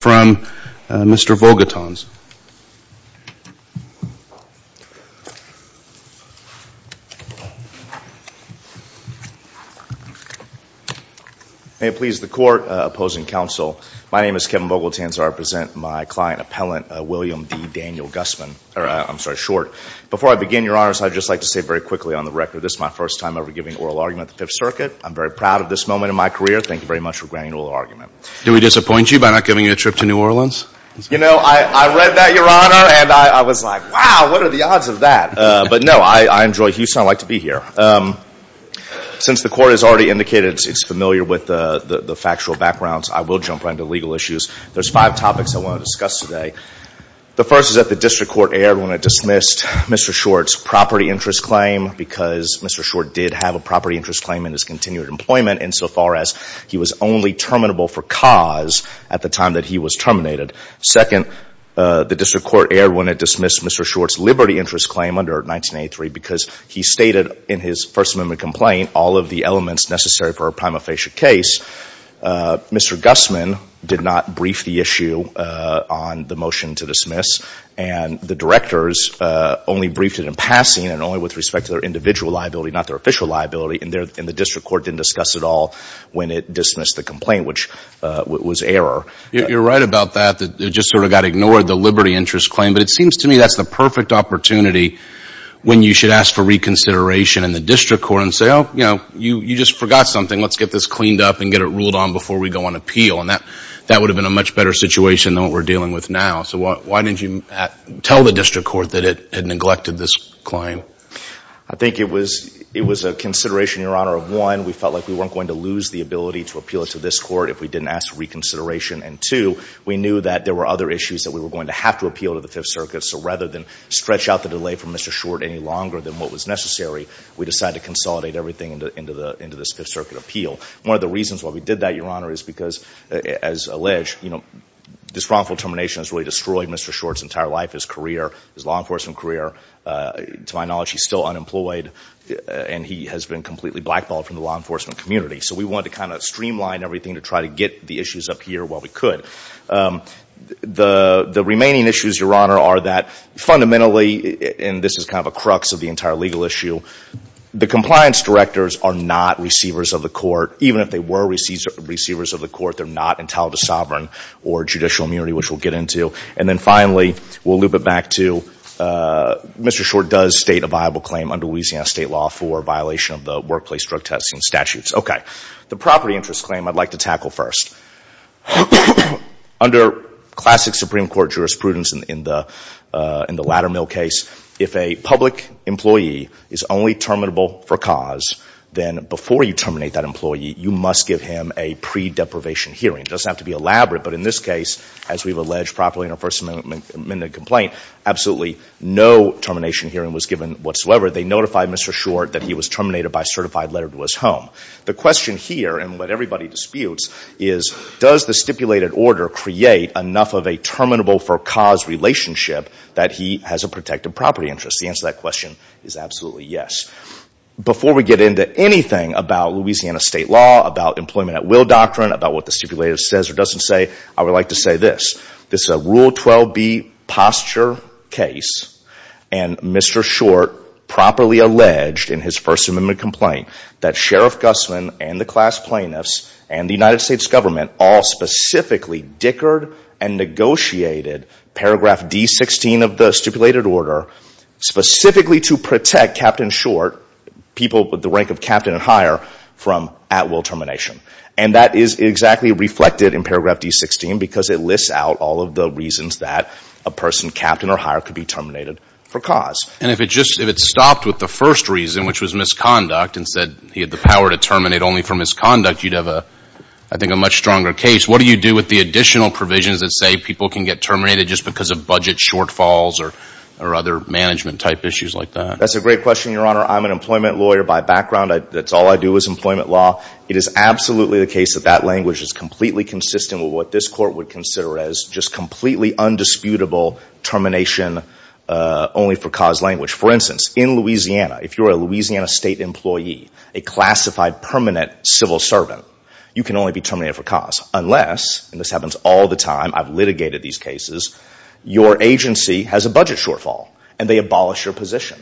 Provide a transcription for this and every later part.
from Mr. Vogelton's. May it please the Court, Opposing Counsel, my name is Kevin Vogelton and I present my client, Appellant William D. Daniel Gusman, or I'm sorry, Short. Before I begin, Your Honors, I'd just like to say very quickly on the record this is my first time ever giving oral argument at the Fifth Circuit. I'm very proud of this moment in my career. Thank you very much for granting oral argument. Do we disappoint you by not giving you a trip to New Orleans? You know, I read that, Your Honor, and I was like, wow, what are the odds of that? But no, I enjoy Houston. I like to be here. Since the Court has already indicated it's familiar with the factual backgrounds, I will jump right into legal issues. There's five topics I want to discuss today. The first is that the District Court erred when it dismissed Mr. Short's property interest claim because Mr. Short did have a property interest claim in his continued employment insofar as he was only terminable for cause at the time that he was terminated. Second, the District Court erred when it dismissed Mr. Short's liberty interest claim under 1983 because he stated in his First Amendment complaint all of the elements necessary for a prima facie case. Mr. Gusman did not brief the issue on the motion to dismiss, and the directors only briefed it in passing and only with respect to their individual liability, not their official liability, and the District Court didn't discuss it all when it dismissed the complaint, which was error. You're right about that. It just sort of got ignored, the liberty interest claim, but it seems to me that's the perfect opportunity when you should ask for reconsideration in the District Court and say, oh, you know, you just forgot something. Let's get this cleaned up and get it ruled on before we go on appeal, and that would have been a much better situation than what we're dealing with now. So why didn't you tell the District Court that it had neglected this claim? I think it was a consideration, Your Honor, of one, we felt like we weren't going to lose the ability to appeal it to this Court if we didn't ask for reconsideration, and two, we knew that there were other issues that we were going to have to appeal to the Fifth Circuit, so rather than stretch out the delay from Mr. Short any longer than what was necessary, we decided to consolidate everything into this Fifth Circuit appeal. One of the reasons why we did that, Your Honor, is because, as alleged, you know, this wrongful termination has really destroyed Mr. Short's entire life, his career, his law enforcement career. To my knowledge, he's still unemployed, and he has been completely blackballed from the law enforcement community. So we wanted to kind of streamline everything to try to get the issues up here while we could. The remaining issues, Your Honor, are that fundamentally, and this is kind of a crux of the entire legal issue, the compliance directors are not receivers of the court. Even if they were receivers of the court, they're not entitled to sovereign or judicial immunity, which we'll get into. And then finally, we'll loop it back to Mr. Short does state a viable claim under Louisiana state law for violation of the workplace drug testing statutes. Okay. The property interest claim I'd like to tackle first. Under classic Supreme Court jurisprudence in the Ladder Mill case, if a public employee is only terminable for cause, then before you terminate that employee, you must give him a pre-deprivation hearing. It doesn't have to be elaborate, but in this case, as we've alleged properly in our First Amendment complaint, absolutely no termination hearing was given whatsoever. They notified Mr. Short that he was terminated by certified letter to his home. The question here, and what everybody disputes, is does the stipulated order create enough of a terminable for cause relationship that he has a protected property interest? The answer to that question is absolutely yes. Before we get into anything about Louisiana state law, about employment at will doctrine, about what the stipulated order says or doesn't say, I would like to say this. This is a Rule 12B posture case, and Mr. Short properly alleged in his First Amendment complaint that Sheriff Gussman and the class plaintiffs and the United States government all specifically dickered and negotiated paragraph D16 of the stipulated order specifically to protect Captain Short, people with the terminated for cause. And if it just, if it stopped with the first reason, which was misconduct and said he had the power to terminate only for misconduct, you'd have a, I think, a much stronger case. What do you do with the additional provisions that say people can get terminated just because of budget shortfalls or other management-type issues like that? That's a great question, Your Honor. I'm an employment lawyer by background. That's all I do is employment law. It is absolutely the case that that language is completely consistent with what this Court would consider as just completely undisputable termination only for cause language. For instance, in Louisiana, if you're a Louisiana State employee, a classified permanent civil servant, you can only be terminated for cause unless, and this happens all the time, I've litigated these cases, your agency has a budget shortfall and they abolish your position.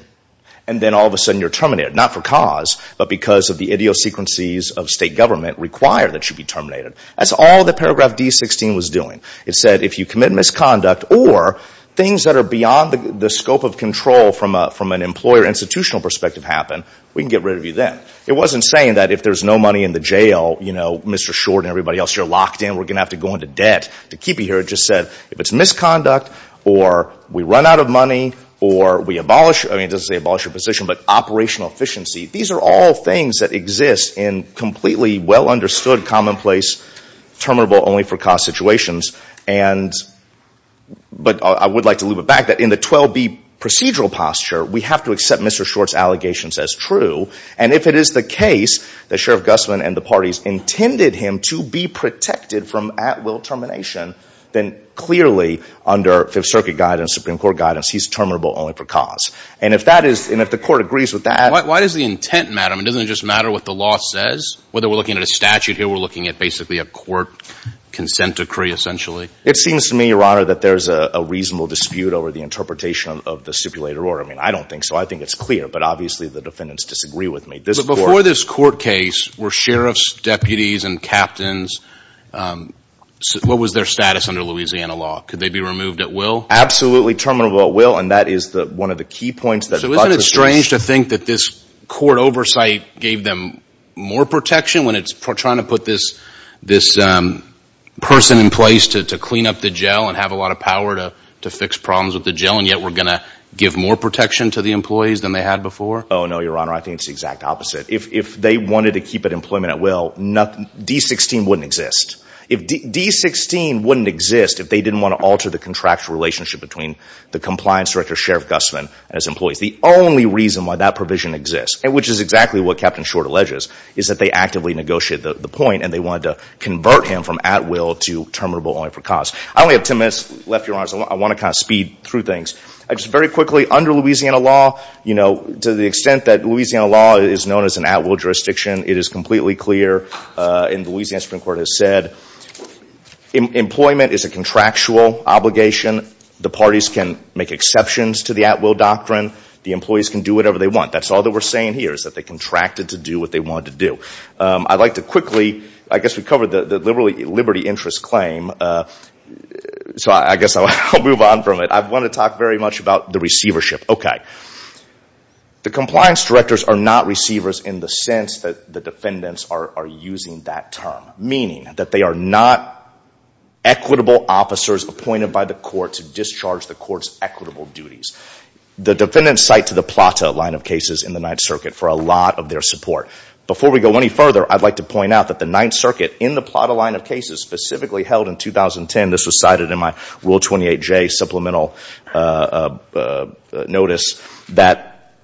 And then all of a sudden you're terminated, not for cause, but because of the idiosyncrasies of state government require that you be terminated. That's all that Paragraph D-16 was doing. It said if you commit misconduct or things that are beyond the scope of control from an employer institutional perspective happen, we can get rid of you then. It wasn't saying that if there's no money in the jail, you know, Mr. Short and everybody else, you're locked in, we're going to have to go into debt to keep you here. It just said if it's misconduct or we run out of money or we abolish, I mean, it doesn't say abolish your position, but operational efficiency, these are all understood commonplace, terminable only for cause situations. And, but I would like to loop it back that in the 12B procedural posture, we have to accept Mr. Short's allegations as true. And if it is the case that Sheriff Guzman and the parties intended him to be protected from at will termination, then clearly under Fifth Circuit guidance, Supreme Court guidance, he's terminable only for cause. And if that is, and if the court agrees with that... Why does the intent matter? I mean, doesn't it just matter what the law says, whether we're looking at a statute here, we're looking at basically a court consent decree, essentially. It seems to me, Your Honor, that there's a reasonable dispute over the interpretation of the stipulated order. I mean, I don't think so. I think it's clear, but obviously the defendants disagree with me. But before this court case, were sheriffs, deputies, and captains, what was their status under Louisiana law? Could they be removed at will? Absolutely terminable at will. And that is one of the key points that... So isn't it strange to think that this court oversight gave them more protection when it's trying to put this person in place to clean up the jail and have a lot of power to fix problems with the jail, and yet we're going to give more protection to the employees than they had before? Oh, no, Your Honor. I think it's the exact opposite. If they wanted to keep it employment at will, D-16 wouldn't exist. D-16 wouldn't exist if they didn't want to alter the contractual relationship between the compliance director, Sheriff Gustman, and his employees. The only reason why that provision exists, which is exactly what Captain Short alleges, is that they actively negotiated the point and they wanted to convert him from at will to terminable only for cause. I only have 10 minutes left, Your Honors. I want to kind of speed through things. Just very quickly, under Louisiana law, to the extent that Louisiana law is known as an at will jurisdiction, it is completely clear, and the Louisiana Supreme Court has said, employment is a contractual obligation. The parties can make exceptions to the at will doctrine. The employees can do whatever they want. That's all that we're saying here, is that they contracted to do what they wanted to do. I'd like to quickly, I guess we covered the liberty interest claim, so I guess I'll move on from it. I want to talk very much about the receivership. Okay. The compliance directors are not receivers in the sense that the defendants are using that term, meaning that they are not equitable officers appointed by the court to discharge the court's equitable duties. The defendants cite to the PLATA line of cases in the Ninth Circuit for a lot of their support. Before we go any further, I'd like to point out that the Ninth Circuit, in the PLATA line of cases, specifically held in 2010, this was cited in my Rule 28J supplemental notice, that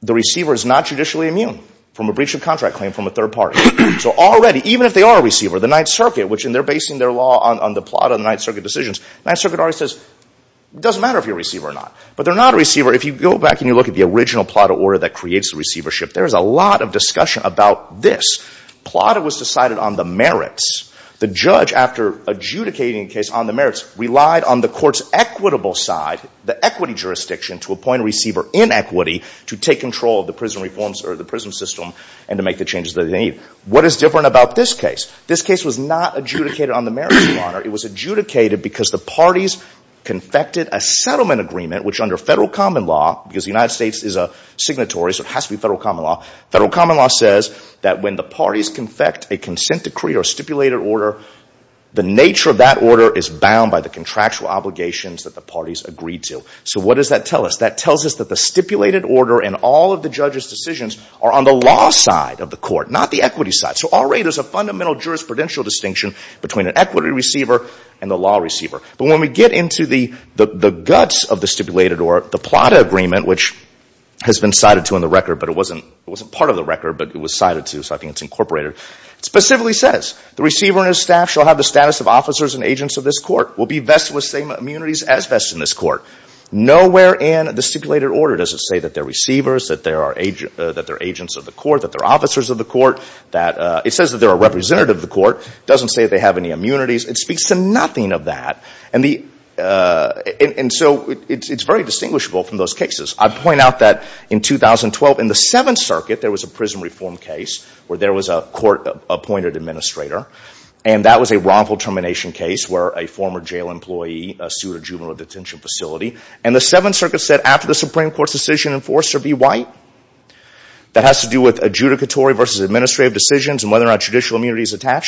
the receiver is not judicially immune from a breach of contract claim from a third party. So already, even if they are a receiver, the Ninth Circuit, which in their basing their law on the PLATA and the Ninth Circuit decisions, the Ninth Circuit already says, it doesn't matter if you're a receiver or not. But they're not a receiver. If you go back and you look at the original PLATA order that creates the receivership, there is a lot of discussion about this. PLATA was decided on the merits. The judge, after adjudicating a case on the merits, relied on the court's equitable side, the equity jurisdiction, to appoint a receiver in equity to take control of the prison reforms or the prison system and to make the changes that they need. What is different about this case? This case was not adjudicated on the merits of honor. It was adjudicated because the parties confected a settlement agreement, which under federal common law, because the United States is a signatory, so it has to be federal common law, federal common law says that when the parties confect a consent decree or stipulated order, the nature of that order is bound by the contractual obligations that the parties agreed to. So what does that tell us? That tells us that the stipulated order and all of the judge's decisions are on the law side of the court, not the equity side. So already there's a fundamental jurisprudential distinction between an equity receiver and the law receiver. But when we get into the guts of the stipulated or the PLATA agreement, which has been cited to in the record, but it wasn't part of the record, but it was cited to, so I think it's incorporated, it specifically says, the receiver and his staff shall have the status of officers and agents of this court, will be vested with the same immunities as vested in this court. Nowhere in the stipulated order does it say that they're receivers, that they're agents of the court, that they're officers of the court. It says that they're a representative of the court. It doesn't say that they have any immunities. It speaks to nothing of that. And so it's very distinguishable from those cases. I point out that in 2012, in the Seventh Circuit, there was a prison reform case where there was a court-appointed administrator, and that was a wrongful termination case where a former jail employee sued a juvenile detention facility. And the Seventh Circuit said, after the Supreme Court's decision, enforcer be white. That has to do with adjudicatory versus administrative decisions and whether or not judicial immunity is going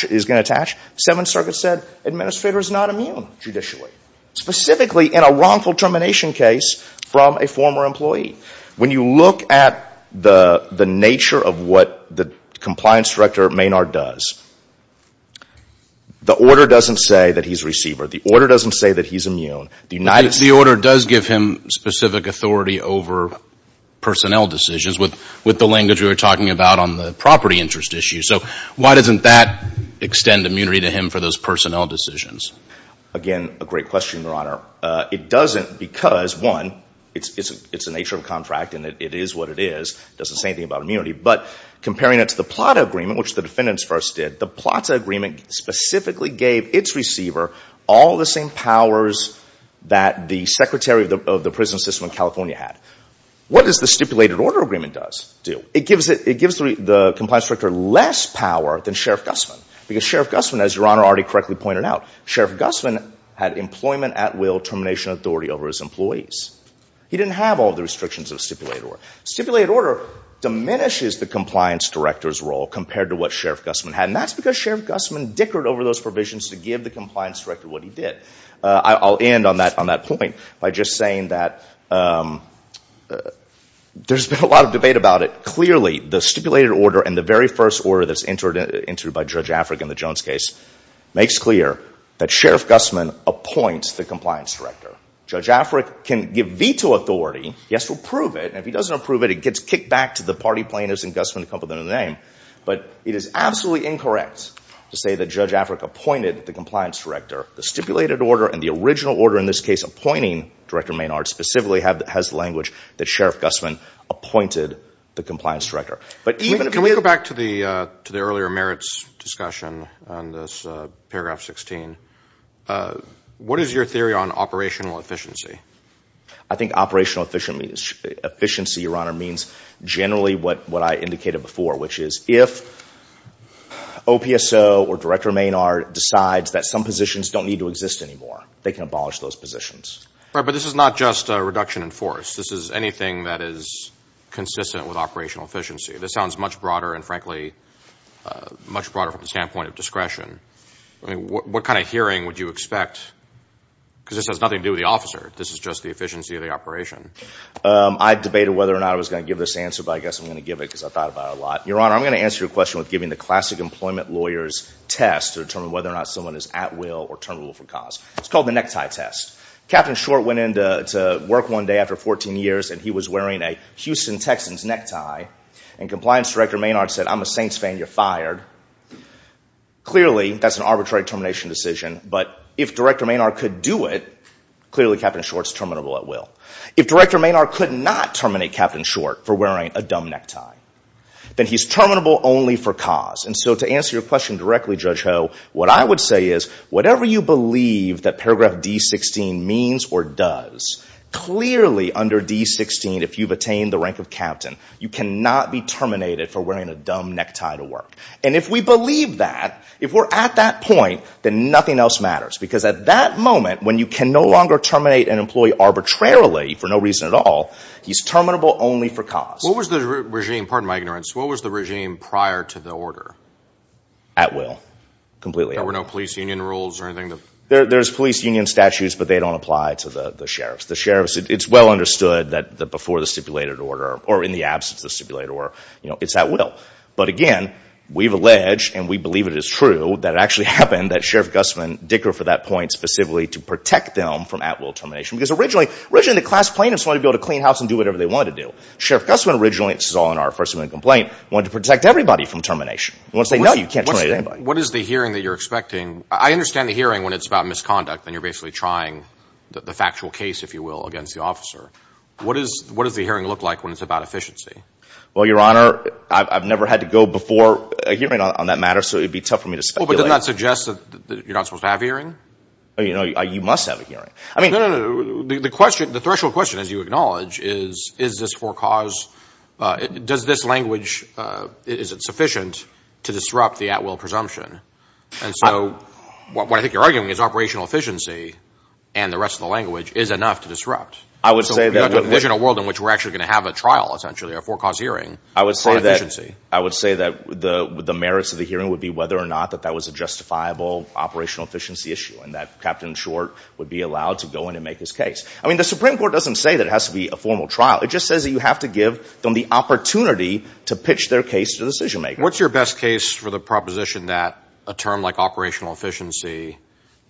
to attach. The Seventh Circuit said, administrator is not immune, judicially, specifically in a wrongful termination case from a former employee. When you look at the nature of what the compliance director, Maynard, does, the order doesn't say that he's immune. The United States... The order does give him specific authority over personnel decisions with the language we were talking about on the property interest issue. So why doesn't that extend immunity to him for those personnel decisions? Again, a great question, Your Honor. It doesn't because, one, it's the nature of a contract and it is what it is. It doesn't say anything about immunity. But comparing it to the Plata Agreement, which the defendants first did, the Plata Agreement specifically gave its receiver all the same powers that the secretary of the prison system in California had. What does the stipulated order agreement do? It gives the compliance director less power than Sheriff Gussman. Because Sheriff Gussman, as Your Honor already correctly pointed out, Sheriff Gussman had employment at will termination authority over his employees. He didn't have all the restrictions of stipulated order. Stipulated order diminishes the compliance director's role compared to what Sheriff Gussman had. And that's because Sheriff Gussman dickered over those provisions to give the compliance director what he did. I'll end on that point by just saying that there's been a lot of debate about it. Clearly, the stipulated order and the very first order that's entered by Judge Afric in the Jones case makes clear that Sheriff Gussman appoints the compliance director. Judge Afric can give veto authority. He has to approve it. And if he doesn't approve it, it gets kicked back to the party plaintiffs and Gussman to come up with another name. But it is absolutely incorrect to say that Judge Afric appointed the compliance director. The stipulated order and the original order in this case appointing Director Maynard specifically has the language that Sheriff Gussman appointed the compliance director. But even if... Can we go back to the earlier merits discussion on this paragraph 16? What is your theory on operational efficiency? I think operational efficiency, Your Honor, means generally what I indicated before, which is if OPSO or Director Maynard decides that some positions don't need to exist anymore, they can abolish those positions. But this is not just a reduction in force. This is anything that is consistent with operational efficiency. This sounds much broader and, frankly, much broader from the standpoint of discretion. What kind of hearing would you expect? Because this has nothing to do with the officer. This is just the efficiency of the operation. I debated whether or not I was going to give this answer, but I guess I'm going to give it because I thought about it a lot. Your Honor, I'm going to answer your question with giving the classic employment lawyer's test to determine whether or not someone is at will or terminable for cause. It's called the necktie test. Captain Short went in to work one day after 14 years, and he was wearing a Houston Texans necktie, and Compliance Director Maynard said, I'm a Saints fan. You're fired. Clearly that's an arbitrary termination decision, but if Director Maynard could do it, clearly Captain Short's terminable at will. If Director Maynard could not terminate Captain Short for wearing a dumb necktie, then he's terminable only for cause. To answer your question directly, Judge Ho, what I would say is whatever you believe that paragraph D-16 means or does, clearly under D-16, if you've attained the rank of captain, you cannot be terminated for wearing a dumb necktie to work. If we believe that, if we're at that point, then nothing else matters. At that moment, when you can no longer terminate an employee arbitrarily for no reason at all, he's terminable only for cause. What was the regime, pardon my ignorance, what was the regime prior to the order? At will. Completely. There were no police union rules or anything? There's police union statutes, but they don't apply to the sheriffs. The sheriffs, it's well understood that before the stipulated order, or in the absence of the stipulated order, it's at will. But again, we've alleged, and we believe it is true, that it actually was Sheriff Gussman, Dicker for that point specifically, to protect them from at will termination. Because originally, originally the class plaintiffs wanted to be able to clean house and do whatever they wanted to do. Sheriff Gussman originally, this is all in our first amendment complaint, wanted to protect everybody from termination. He wanted to say, no, you can't terminate anybody. What is the hearing that you're expecting? I understand the hearing when it's about misconduct and you're basically trying the factual case, if you will, against the officer. What does the hearing look like when it's about efficiency? Well, Your Honor, I've never had to go before a hearing on that matter, so it would be tough for me to speculate. Well, but doesn't that suggest that you're not supposed to have a hearing? You must have a hearing. No, no, no. The question, the threshold question, as you acknowledge, is, is this for cause, does this language, is it sufficient to disrupt the at will presumption? And so, what I think you're arguing is operational efficiency and the rest of the language is enough to disrupt. I would say that- So you're not envisioning a world in which we're actually going to have a trial, essentially, a for cause hearing for efficiency. I would say that the merits of the hearing would be whether or not that that was a justifiable operational efficiency issue and that Captain Short would be allowed to go in and make his case. I mean, the Supreme Court doesn't say that it has to be a formal trial. It just says that you have to give them the opportunity to pitch their case to the decision makers. What's your best case for the proposition that a term like operational efficiency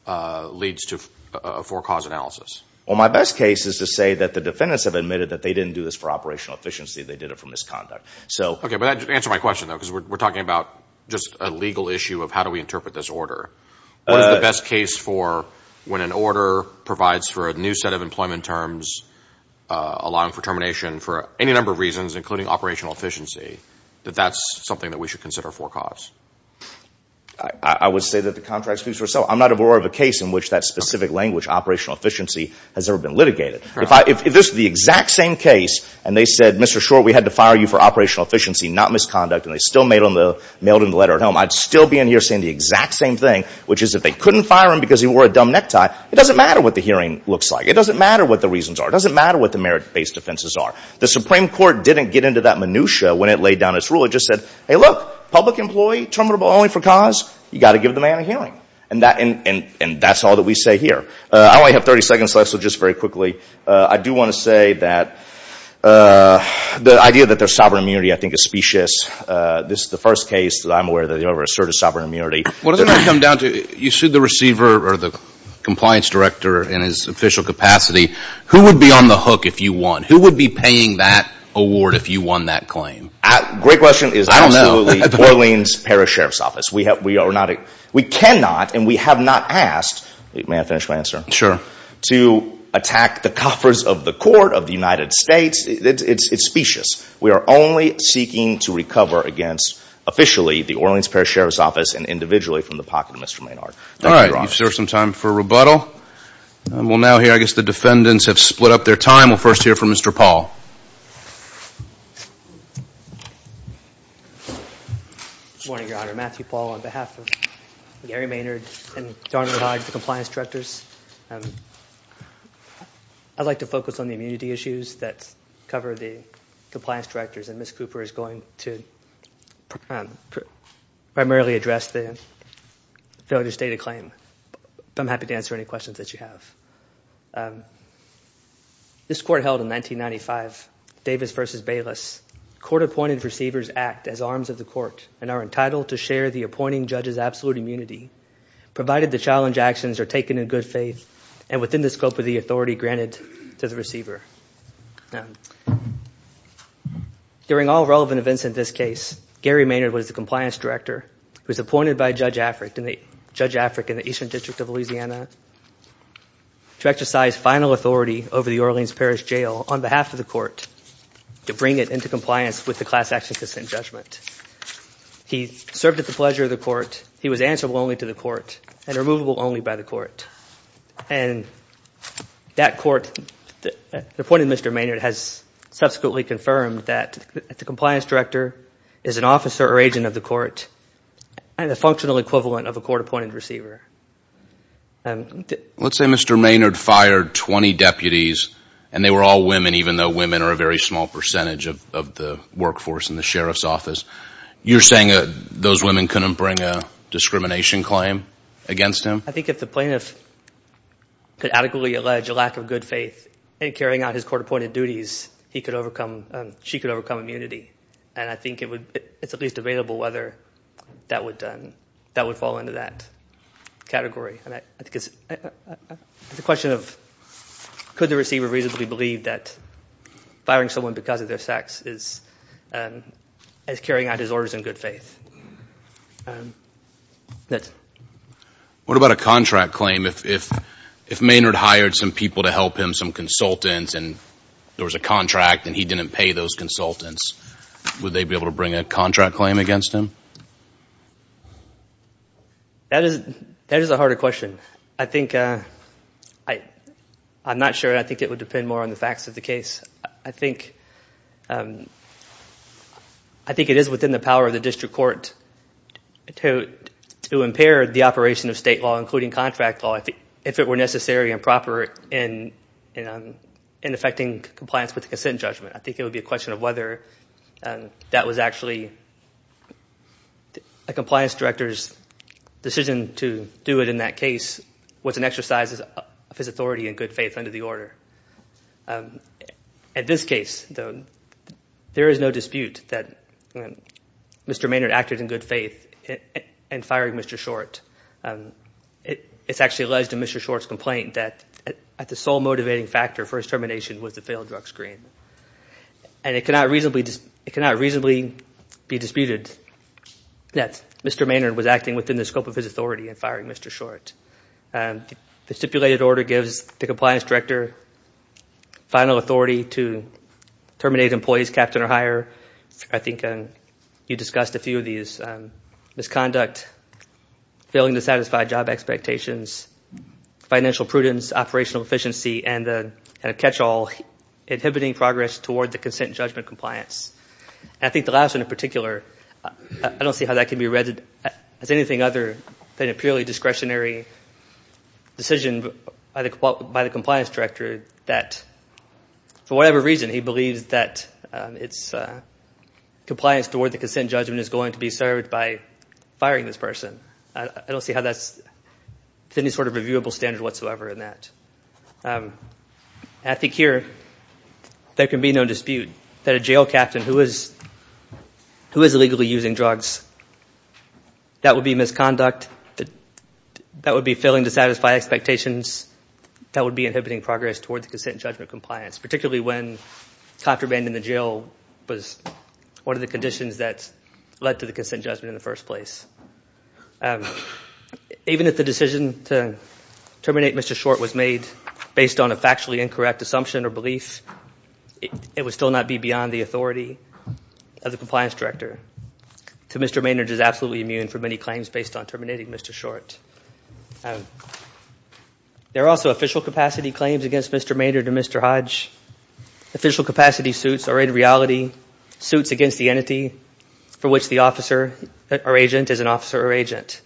leads to a for cause analysis? Well, my best case is to say that the defendants have admitted that they didn't do this for operational efficiency. They did it for misconduct. Okay, but that answers my question, though, because we're talking about just a legal issue of how do we interpret this order. What is the best case for when an order provides for a new set of employment terms allowing for termination for any number of reasons, including operational efficiency, that that's something that we should consider for cause? I would say that the contract speaks for itself. I'm not aware of a case in which that specific language operational efficiency has ever been litigated. If this is the exact same case and they said, Mr. Short, we had to fire you for operational efficiency, not misconduct, and they still mailed in the letter at home, I'd still be in here saying the exact same thing, which is if they couldn't fire him because he wore a dumb necktie, it doesn't matter what the hearing looks like. It doesn't matter what the reasons are. It doesn't matter what the merit-based offenses are. The Supreme Court didn't get into that minutia when it laid down its rule. It just said, hey, look, public employee, terminable only for cause, you got to give the man a hearing. And that's all that we say here. I only have 30 seconds left, so just very quickly, I do want to say that the idea that there's sovereign immunity, I think, is specious. This is the first case that I'm aware of that they've ever asserted sovereign immunity. What does it come down to? You sued the receiver or the compliance director in his official capacity. Who would be on the hook if you won? Who would be paying that award if you won that claim? Great question. It is absolutely Orleans Parish Sheriff's Office. We cannot and we have not the answer. To attack the coffers of the court of the United States, it's specious. We are only seeking to recover against, officially, the Orleans Parish Sheriff's Office and individually from the pocket of Mr. Maynard. All right. You've served some time for rebuttal. We'll now hear, I guess, the defendants have split up their time. We'll first hear from Mr. Paul. Good morning, Your Honor. Matthew Paul on behalf of Gary Maynard and Darnold Hyde, the defendants. I'd like to focus on the immunity issues that cover the compliance directors. Ms. Cooper is going to primarily address the failure to state a claim. I'm happy to answer any questions that you have. This court held in 1995, Davis v. Bayless. Court-appointed receivers act as arms of the court and are entitled to share the appointing judge's absolute immunity, provided the challenge actions are taken in good faith and within the scope of the authority granted to the receiver. During all relevant events in this case, Gary Maynard was the compliance director who was appointed by Judge Afric in the Eastern District of Louisiana to exercise final authority over the Orleans Parish Jail on behalf of the court to bring it into compliance with the class action consent judgment. He served at the pleasure of the court. He was answerable only to the court and removable only by the court. The appointed Mr. Maynard has subsequently confirmed that the compliance director is an officer or agent of the court and a functional equivalent of a court-appointed receiver. Let's say Mr. Maynard fired 20 deputies and they were all women, even though women are a very small percentage of the workforce in the Sheriff's Office. You're saying those deputies have a discrimination claim against him? I think if the plaintiff could adequately allege a lack of good faith in carrying out his court-appointed duties, she could overcome immunity. I think it's at least available whether that would fall into that category. The question of could the receiver reasonably believe that firing someone because of their lack of good faith? What about a contract claim? If Maynard hired some people to help him, some consultants, and there was a contract and he didn't pay those consultants, would they be able to bring a contract claim against him? That is a harder question. I'm not sure. I think it would depend more on the facts of the case. I think it is within the power of the district court to impair the operation of state law, including contract law, if it were necessary and proper in effecting compliance with the consent judgment. I think it would be a question of whether that was actually a compliance director's decision to do it in that case was an exercise of his authority and good faith under the order. In this case, though, there is no dispute that Mr. Maynard acted in good faith in firing Mr. Short. It's actually alleged in Mr. Short's complaint that the sole motivating factor for his termination was the failed drug screen. It cannot reasonably be disputed that Mr. Maynard was acting within the scope of his authority in firing Mr. Short. The stipulated order gives the compliance director final authority to terminate employees, captain or hire. I think you discussed a few of these. Misconduct, failing to satisfy job expectations, financial prudence, operational efficiency, and a catch-all inhibiting progress toward the consent judgment compliance. I think the last one in particular, I don't see how that could have been determined by the compliance director that for whatever reason he believes that compliance toward the consent judgment is going to be served by firing this person. I don't see how that's any sort of reviewable standard whatsoever in that. I think here there can be no dispute that a jail captain who is illegally using drugs, that would be misconduct, that would be failing to satisfy expectations, that would be inhibiting progress toward the consent judgment compliance, particularly when contraband in the jail was one of the conditions that led to the consent judgment in the first place. Even if the decision to terminate Mr. Short was made based on a factually incorrect assumption or belief, it would still not be beyond the authority of the compliance director. Mr. Maynard is absolutely immune from any claims based on terminating Mr. Short. There are also official capacity claims against Mr. Maynard and Mr. Hodge. Official capacity suits are in reality suits against the entity for which the officer or agent is an officer or agent.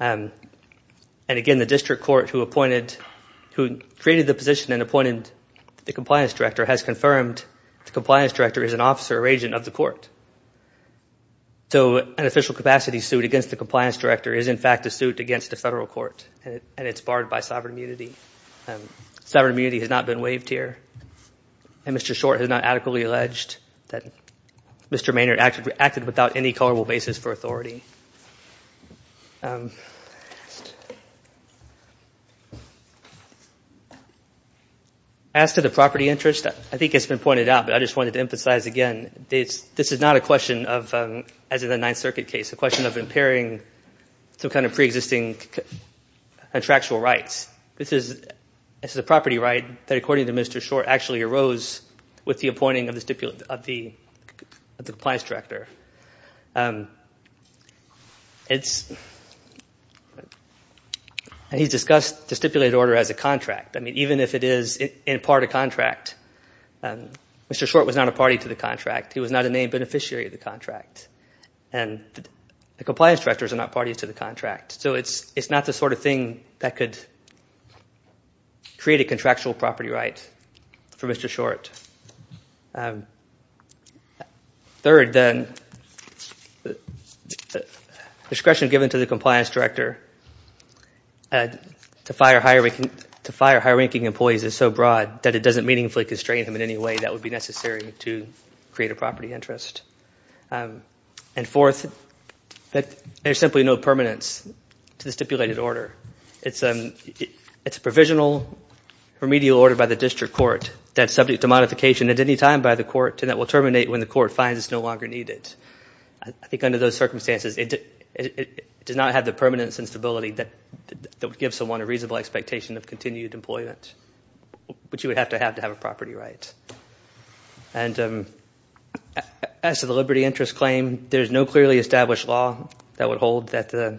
Again, the district court who created the position and appointed the compliance director has confirmed the compliance director is an officer or agent of the court. So an official capacity suit against the compliance director is in fact a suit against the federal court and it's barred by sovereign immunity. Sovereign immunity has not been waived here. Mr. Short has not adequately alleged that Mr. Maynard acted without any culpable basis for authority. As to the property interest, I think it's been pointed out, but I just wanted to emphasize again, this is not a question of, as in the Ninth Circuit case, a question of impairing some kind of preexisting contractual rights. This is a property right that, according to Mr. Short, actually arose with the appointing of the compliance director. And he's discussed the stipulated order as a contract. I mean, even if it is in part a contract, Mr. Short was not a party to the contract. He was not a named beneficiary of the contract. And the compliance directors are not parties to the contract. So it's not the sort of thing that could create a contractual property right for Mr. Short. Third, then, discretion given to the compliance director to fire higher-ranking employees is so broad that it doesn't meaningfully constrain him in any way that would be necessary to create a property interest. And fourth, there's simply no permanence to the stipulated order. It's a provisional remedial order by the district court that's subject to modification at any time by the court and that will terminate when the court finds it's no longer needed. I think under those circumstances, it does not have the permanence and stability that would give someone a reasonable expectation of continued employment, which you would have to have to have a property right. And as to the liberty interest claim, there's no clearly established law saying that the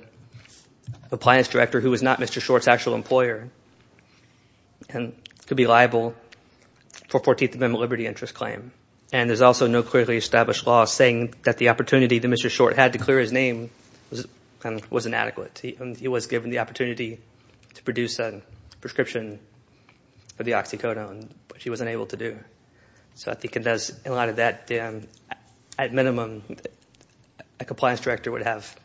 opportunity that Mr. Short had to clear his name was inadequate. He was given the opportunity to produce a prescription of the oxycodone, which he wasn't able to do. So I think it does, in light of that, at minimum, a compliance director would have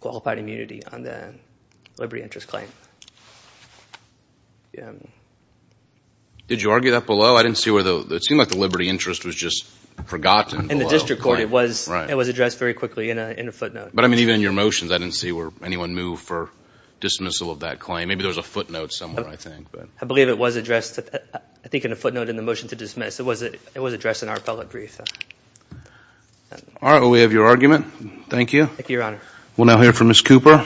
qualified immunity on the liberty interest claim. Did you argue that below? It seemed like the liberty interest was just forgotten below. In the district court, it was addressed very quickly in a footnote. But even in your motions, I didn't see where anyone moved for dismissal of that claim. Maybe there was a footnote somewhere, I think. I believe it was addressed, I think, in a footnote in the motion to dismiss. It was addressed in our appellate brief. All right. Well, we have your argument. Thank you. Thank you, Your Honor. We'll now hear from Ms. Cooper.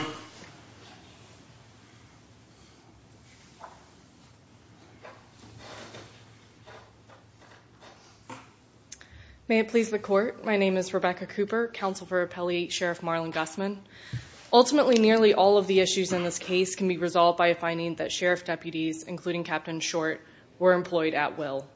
May it please the Court, my name is Rebecca Cooper, Counsel for Appellee Sheriff Marlon Gussman. Ultimately, nearly all of the issues in this case can be resolved by a finding that sheriff deputies, including Captain Short, were employed at will.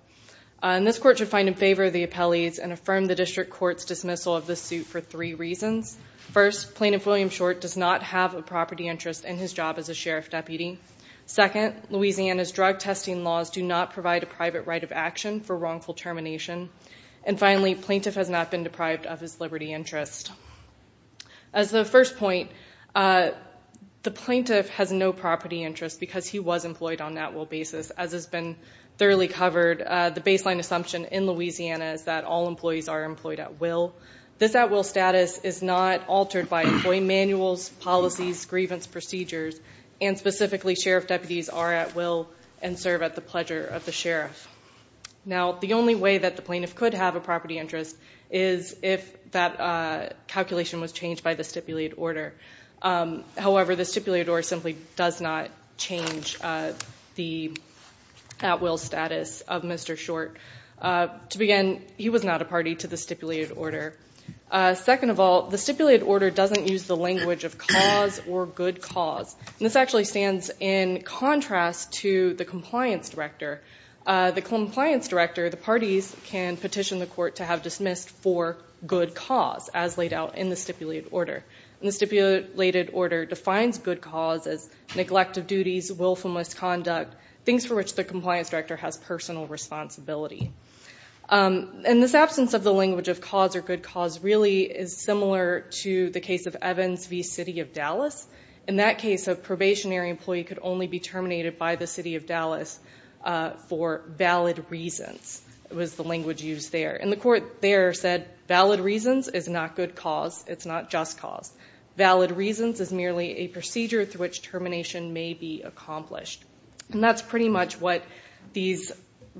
And this Court should find in favor of the appellees and affirm the district court's dismissal of this suit for three reasons. First, Plaintiff William Short does not have a property interest in his job as a sheriff deputy. Second, Louisiana's drug testing laws do not provide a private right of action for wrongful termination. And finally, plaintiff has not been deprived of his liberty interest. As the first point, the plaintiff has no property interest because he was employed on at will basis. As has been thoroughly covered, the baseline assumption in Louisiana is that all employees are employed at will. This at will status is not altered by employee manuals, policies, grievance procedures, and specifically, sheriff deputies are at will and serve at the pleasure of the sheriff. Now, the only way that the plaintiff could have a property interest is if that calculation was changed by the stipulated order. However, the stipulated order simply does not change the at will status of Mr. Short. To begin, he was not a party to the stipulated order. Second of all, the stipulated order doesn't use the language of cause or good cause. This actually stands in contrast to the compliance director. The compliance director, the parties can petition the court to have dismissed for good cause as laid out in the stipulated order. The stipulated order defines good cause as neglect of duties, willful misconduct, things for which the compliance director has personal responsibility. This absence of the language of cause or good cause really is similar to the case of Evans v. City of Dallas. In that case, a probationary employee could only be terminated by the City of Dallas for valid reasons was the language used there. The court there said valid reasons is not good cause, it's not just cause. Valid reasons is merely a procedure through which termination may be accomplished. That's pretty much what these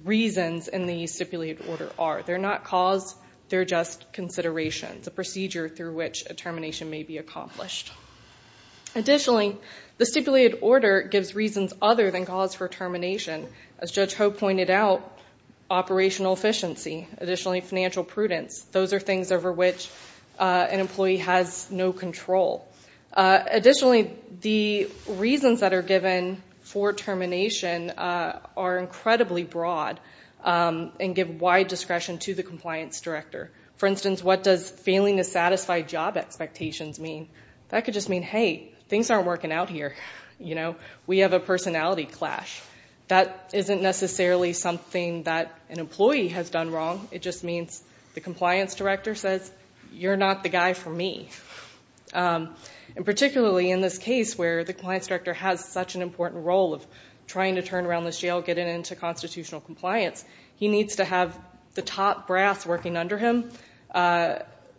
reasons in the stipulated order are. They're not cause, they're just considerations, a procedure through which a termination may be accomplished. Additionally, the stipulated order gives reasons other than cause for termination. As Judge an employee has no control. Additionally, the reasons that are given for termination are incredibly broad and give wide discretion to the compliance director. For instance, what does failing to satisfy job expectations mean? That could just mean, hey, things aren't working out here. We have a personality clash. That isn't necessarily something that an employee has done wrong. It just means the compliance director says, you're not the guy for me. Particularly in this case where the compliance director has such an important role of trying to turn around this jail, get it into constitutional compliance, he needs to have the top brass working under him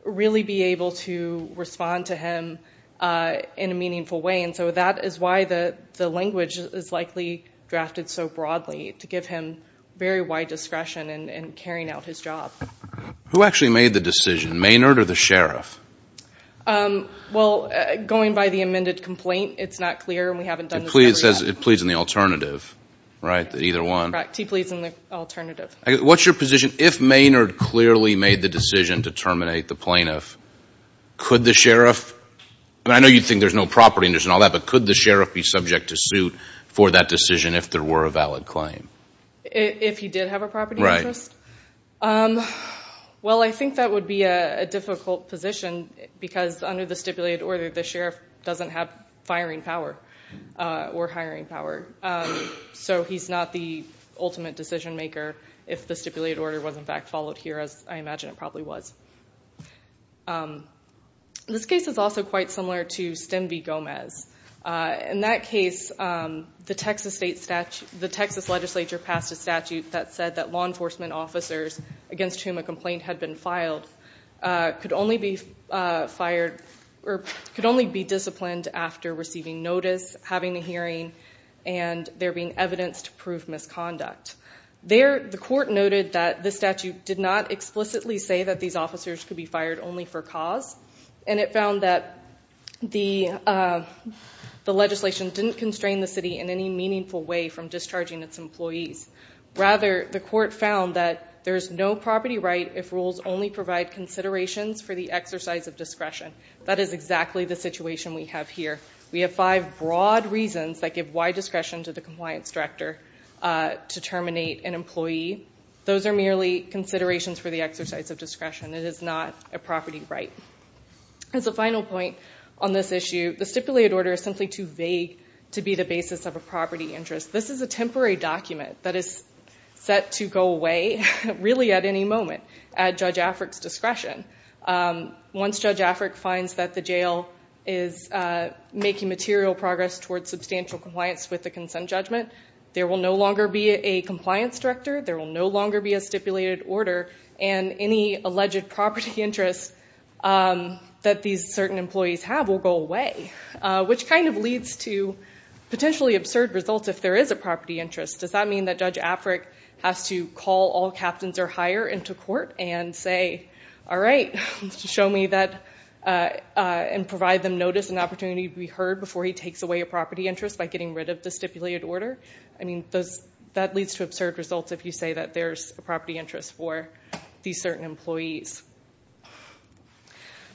really be able to respond to him in a meaningful way. That is why the compliance director has been carrying out his job. Who actually made the decision? Maynard or the sheriff? Going by the amended complaint, it's not clear and we haven't done the summary yet. It pleads in the alternative, right? Either one. Correct. He pleads in the alternative. What's your position? If Maynard clearly made the decision to terminate the plaintiff, could the sheriff, I know you think there's no property interest and all that, but could the sheriff be subject to suit for that decision if there were a valid claim? If he did have a property interest? Right. Well, I think that would be a difficult position because under the stipulated order, the sheriff doesn't have firing power or hiring power. He's not the ultimate decision maker if the stipulated order was in fact followed here as I imagine it probably was. This case is also quite similar to Stem v. Gomez. In that case, the Texas legislature passed a statute that said that law enforcement officers against whom a complaint had been filed could only be disciplined after receiving notice, having a hearing, and there being evidence to prove misconduct. The court noted that the statute did not explicitly say that these officers could be fired only for cause and it found that the legislation didn't constrain the city in any meaningful way from discharging its employees. Rather, the court found that there's no property right if rules only provide considerations for the exercise of discretion. That is exactly the situation we have here. We have five broad reasons that give wide discretion to the compliance director to terminate an employee. Those are merely considerations for the exercise of discretion. It is not a property right. As a final point on this issue, the stipulated order is simply too vague to be the basis of a property interest. This is a temporary document that is set to go away really at any moment at Judge Afric's discretion. Once Judge Afric finds that the jail is making material progress towards substantial compliance with the consent judgment, there will no longer be a compliance director, there will no longer be a stipulated order, and any alleged property interest that these certain employees have will go away, which kind of leads to potentially absurd results if there is a property interest. Does that mean that Judge Afric has to call all captains or hire into court and say, all right, show me that and provide them notice and opportunity to be heard before he takes away a property interest by getting rid of the stipulated order? That leads to absurd results if you say that there's a property interest for these certain employees.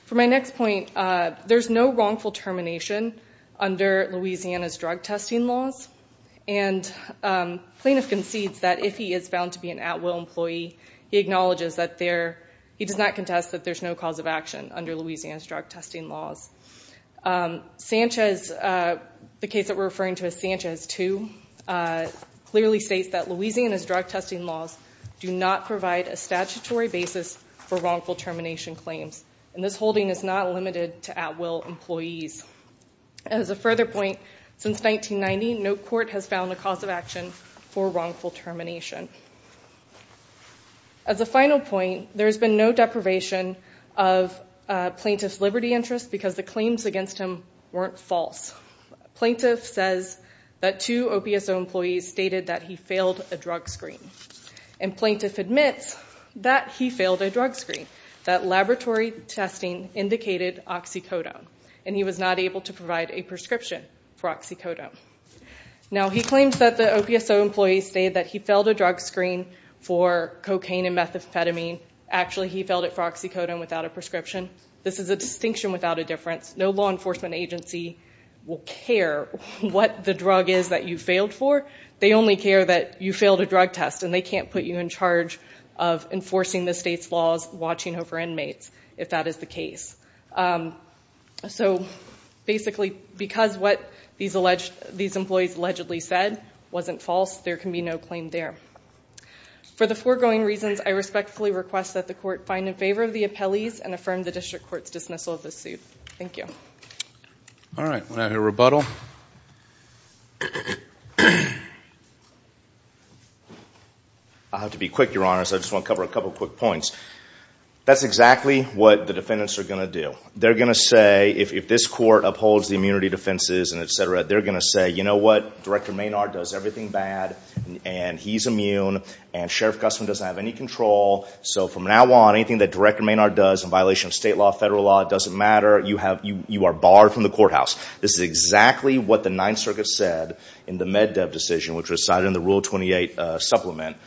For my next point, there's no wrongful termination under Louisiana's drug testing laws. Plaintiff concedes that if he is found to be an at-will employee, he acknowledges that there, he does not contest that there's no cause of action under Louisiana's drug testing laws. Sanchez, the case that we're referring to as Sanchez 2, clearly states that Louisiana's drug testing laws do not provide a statutory basis for wrongful termination claims, and this holding is not limited to at-will employees. As a further point, since 1990, no court has found a cause of action for wrongful termination. As a final point, there's been no deprivation of plaintiff's liberty interest because the two OPSO employees stated that he failed a drug screen, and plaintiff admits that he failed a drug screen, that laboratory testing indicated oxycodone, and he was not able to provide a prescription for oxycodone. Now, he claims that the OPSO employees say that he failed a drug screen for cocaine and methamphetamine. Actually, he failed it for oxycodone without a prescription. This is a distinction without a difference. No law enforcement agency will tell you what the drug is that you failed for. They only care that you failed a drug test, and they can't put you in charge of enforcing the state's laws watching over inmates, if that is the case. Basically, because what these employees allegedly said wasn't false, there can be no claim there. For the foregoing reasons, I respectfully request that the court find in favor of the appellees and affirm the district court's dismissal of this suit. Thank you. All right. We're going to have a rebuttal. I'll have to be quick, Your Honors. I just want to cover a couple of quick points. That's exactly what the defendants are going to do. They're going to say, if this court upholds the immunity defenses and et cetera, they're going to say, you know what? Director Maynard does everything bad, and he's immune, and Sheriff Gustman doesn't have any control, so from now on, anything that Director Maynard does in violation of state law, federal law, it doesn't matter. You are barred from the courthouse. This is exactly what the Ninth Circuit said in the MedDev decision, which was cited in the Rule 28 supplement.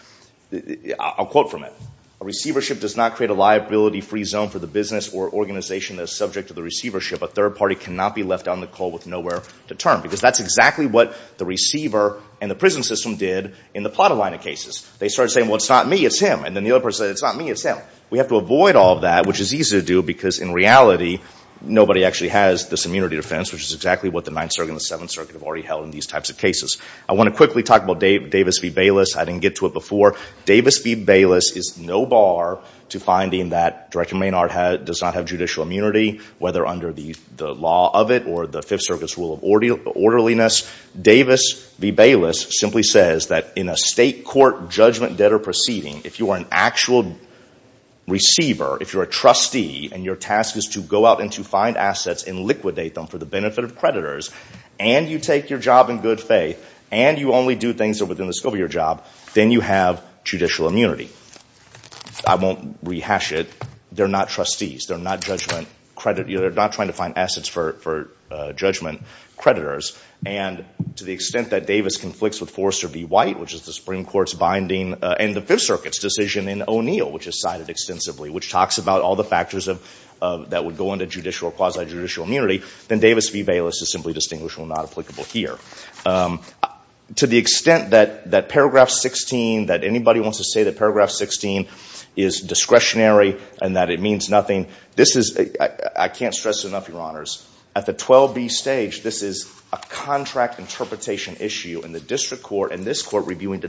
I'll quote from it. A receivership does not create a liability-free zone for the business or organization that is subject to the receivership. A third party cannot be left on the cold with nowhere to turn, because that's exactly what the receiver and the prison system did in the Plata line of cases. They started saying, well, it's not me. It's him. And then the other person said, it's not me. It's him. We have to avoid all of that, which is easy to do, because in reality, nobody actually has this immunity defense, which is exactly what the Ninth Circuit and the Seventh Circuit have already held in these types of cases. I want to quickly talk about Davis v. Bayless. I didn't get to it before. Davis v. Bayless is no bar to finding that Director Maynard does not have judicial immunity, whether under the law of it or the Fifth Circuit's rule of orderliness. Davis v. Bayless simply says that in a state court judgment, debt, or proceeding, if you are an actual receiver, if you're a trustee, and your task is to go out and to find assets and liquidate them for the benefit of creditors, and you take your job in good faith, and you only do things that are within the scope of your job, then you have judicial immunity. I won't rehash it. They're not trustees. They're not judgment creditors. They're not trying to find assets for judgment creditors. And to the extent that Davis conflicts with Forrester v. White, which is the Supreme Court's binding in the Fifth Circuit's decision in O'Neill, which is cited extensively, which talks about all the factors that would go into judicial or quasi-judicial immunity, then Davis v. Bayless is simply distinguishable and not applicable here. To the extent that Paragraph 16, that anybody wants to say that Paragraph 16 is discretionary and that it means nothing, this is, I can't stress it enough, Your Honors, at the 12B stage, this is a contract interpretation issue, and the district court and this court reviewing de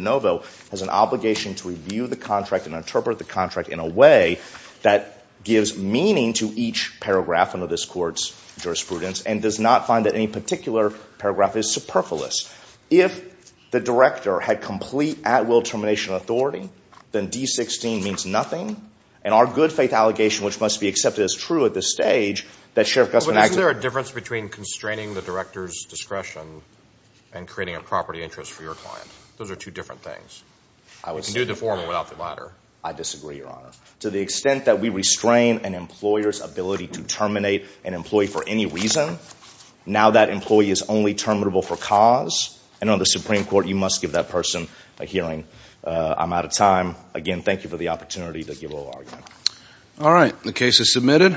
way that gives meaning to each paragraph under this court's jurisprudence and does not find that any particular paragraph is superfluous. If the director had complete at-will termination authority, then D-16 means nothing, and our good faith allegation, which must be accepted as true at this stage, that Sheriff Gustman acted But isn't there a difference between constraining the director's discretion and creating a property interest for your client? Those are two different things. You can do the former without the latter. I disagree, Your Honor. To the extent that we restrain an employer's ability to terminate an employee for any reason, now that employee is only terminable for cause, and on the Supreme Court, you must give that person a hearing. I'm out of time. Again, thank you for the opportunity to give a little argument. All right. The case is submitted.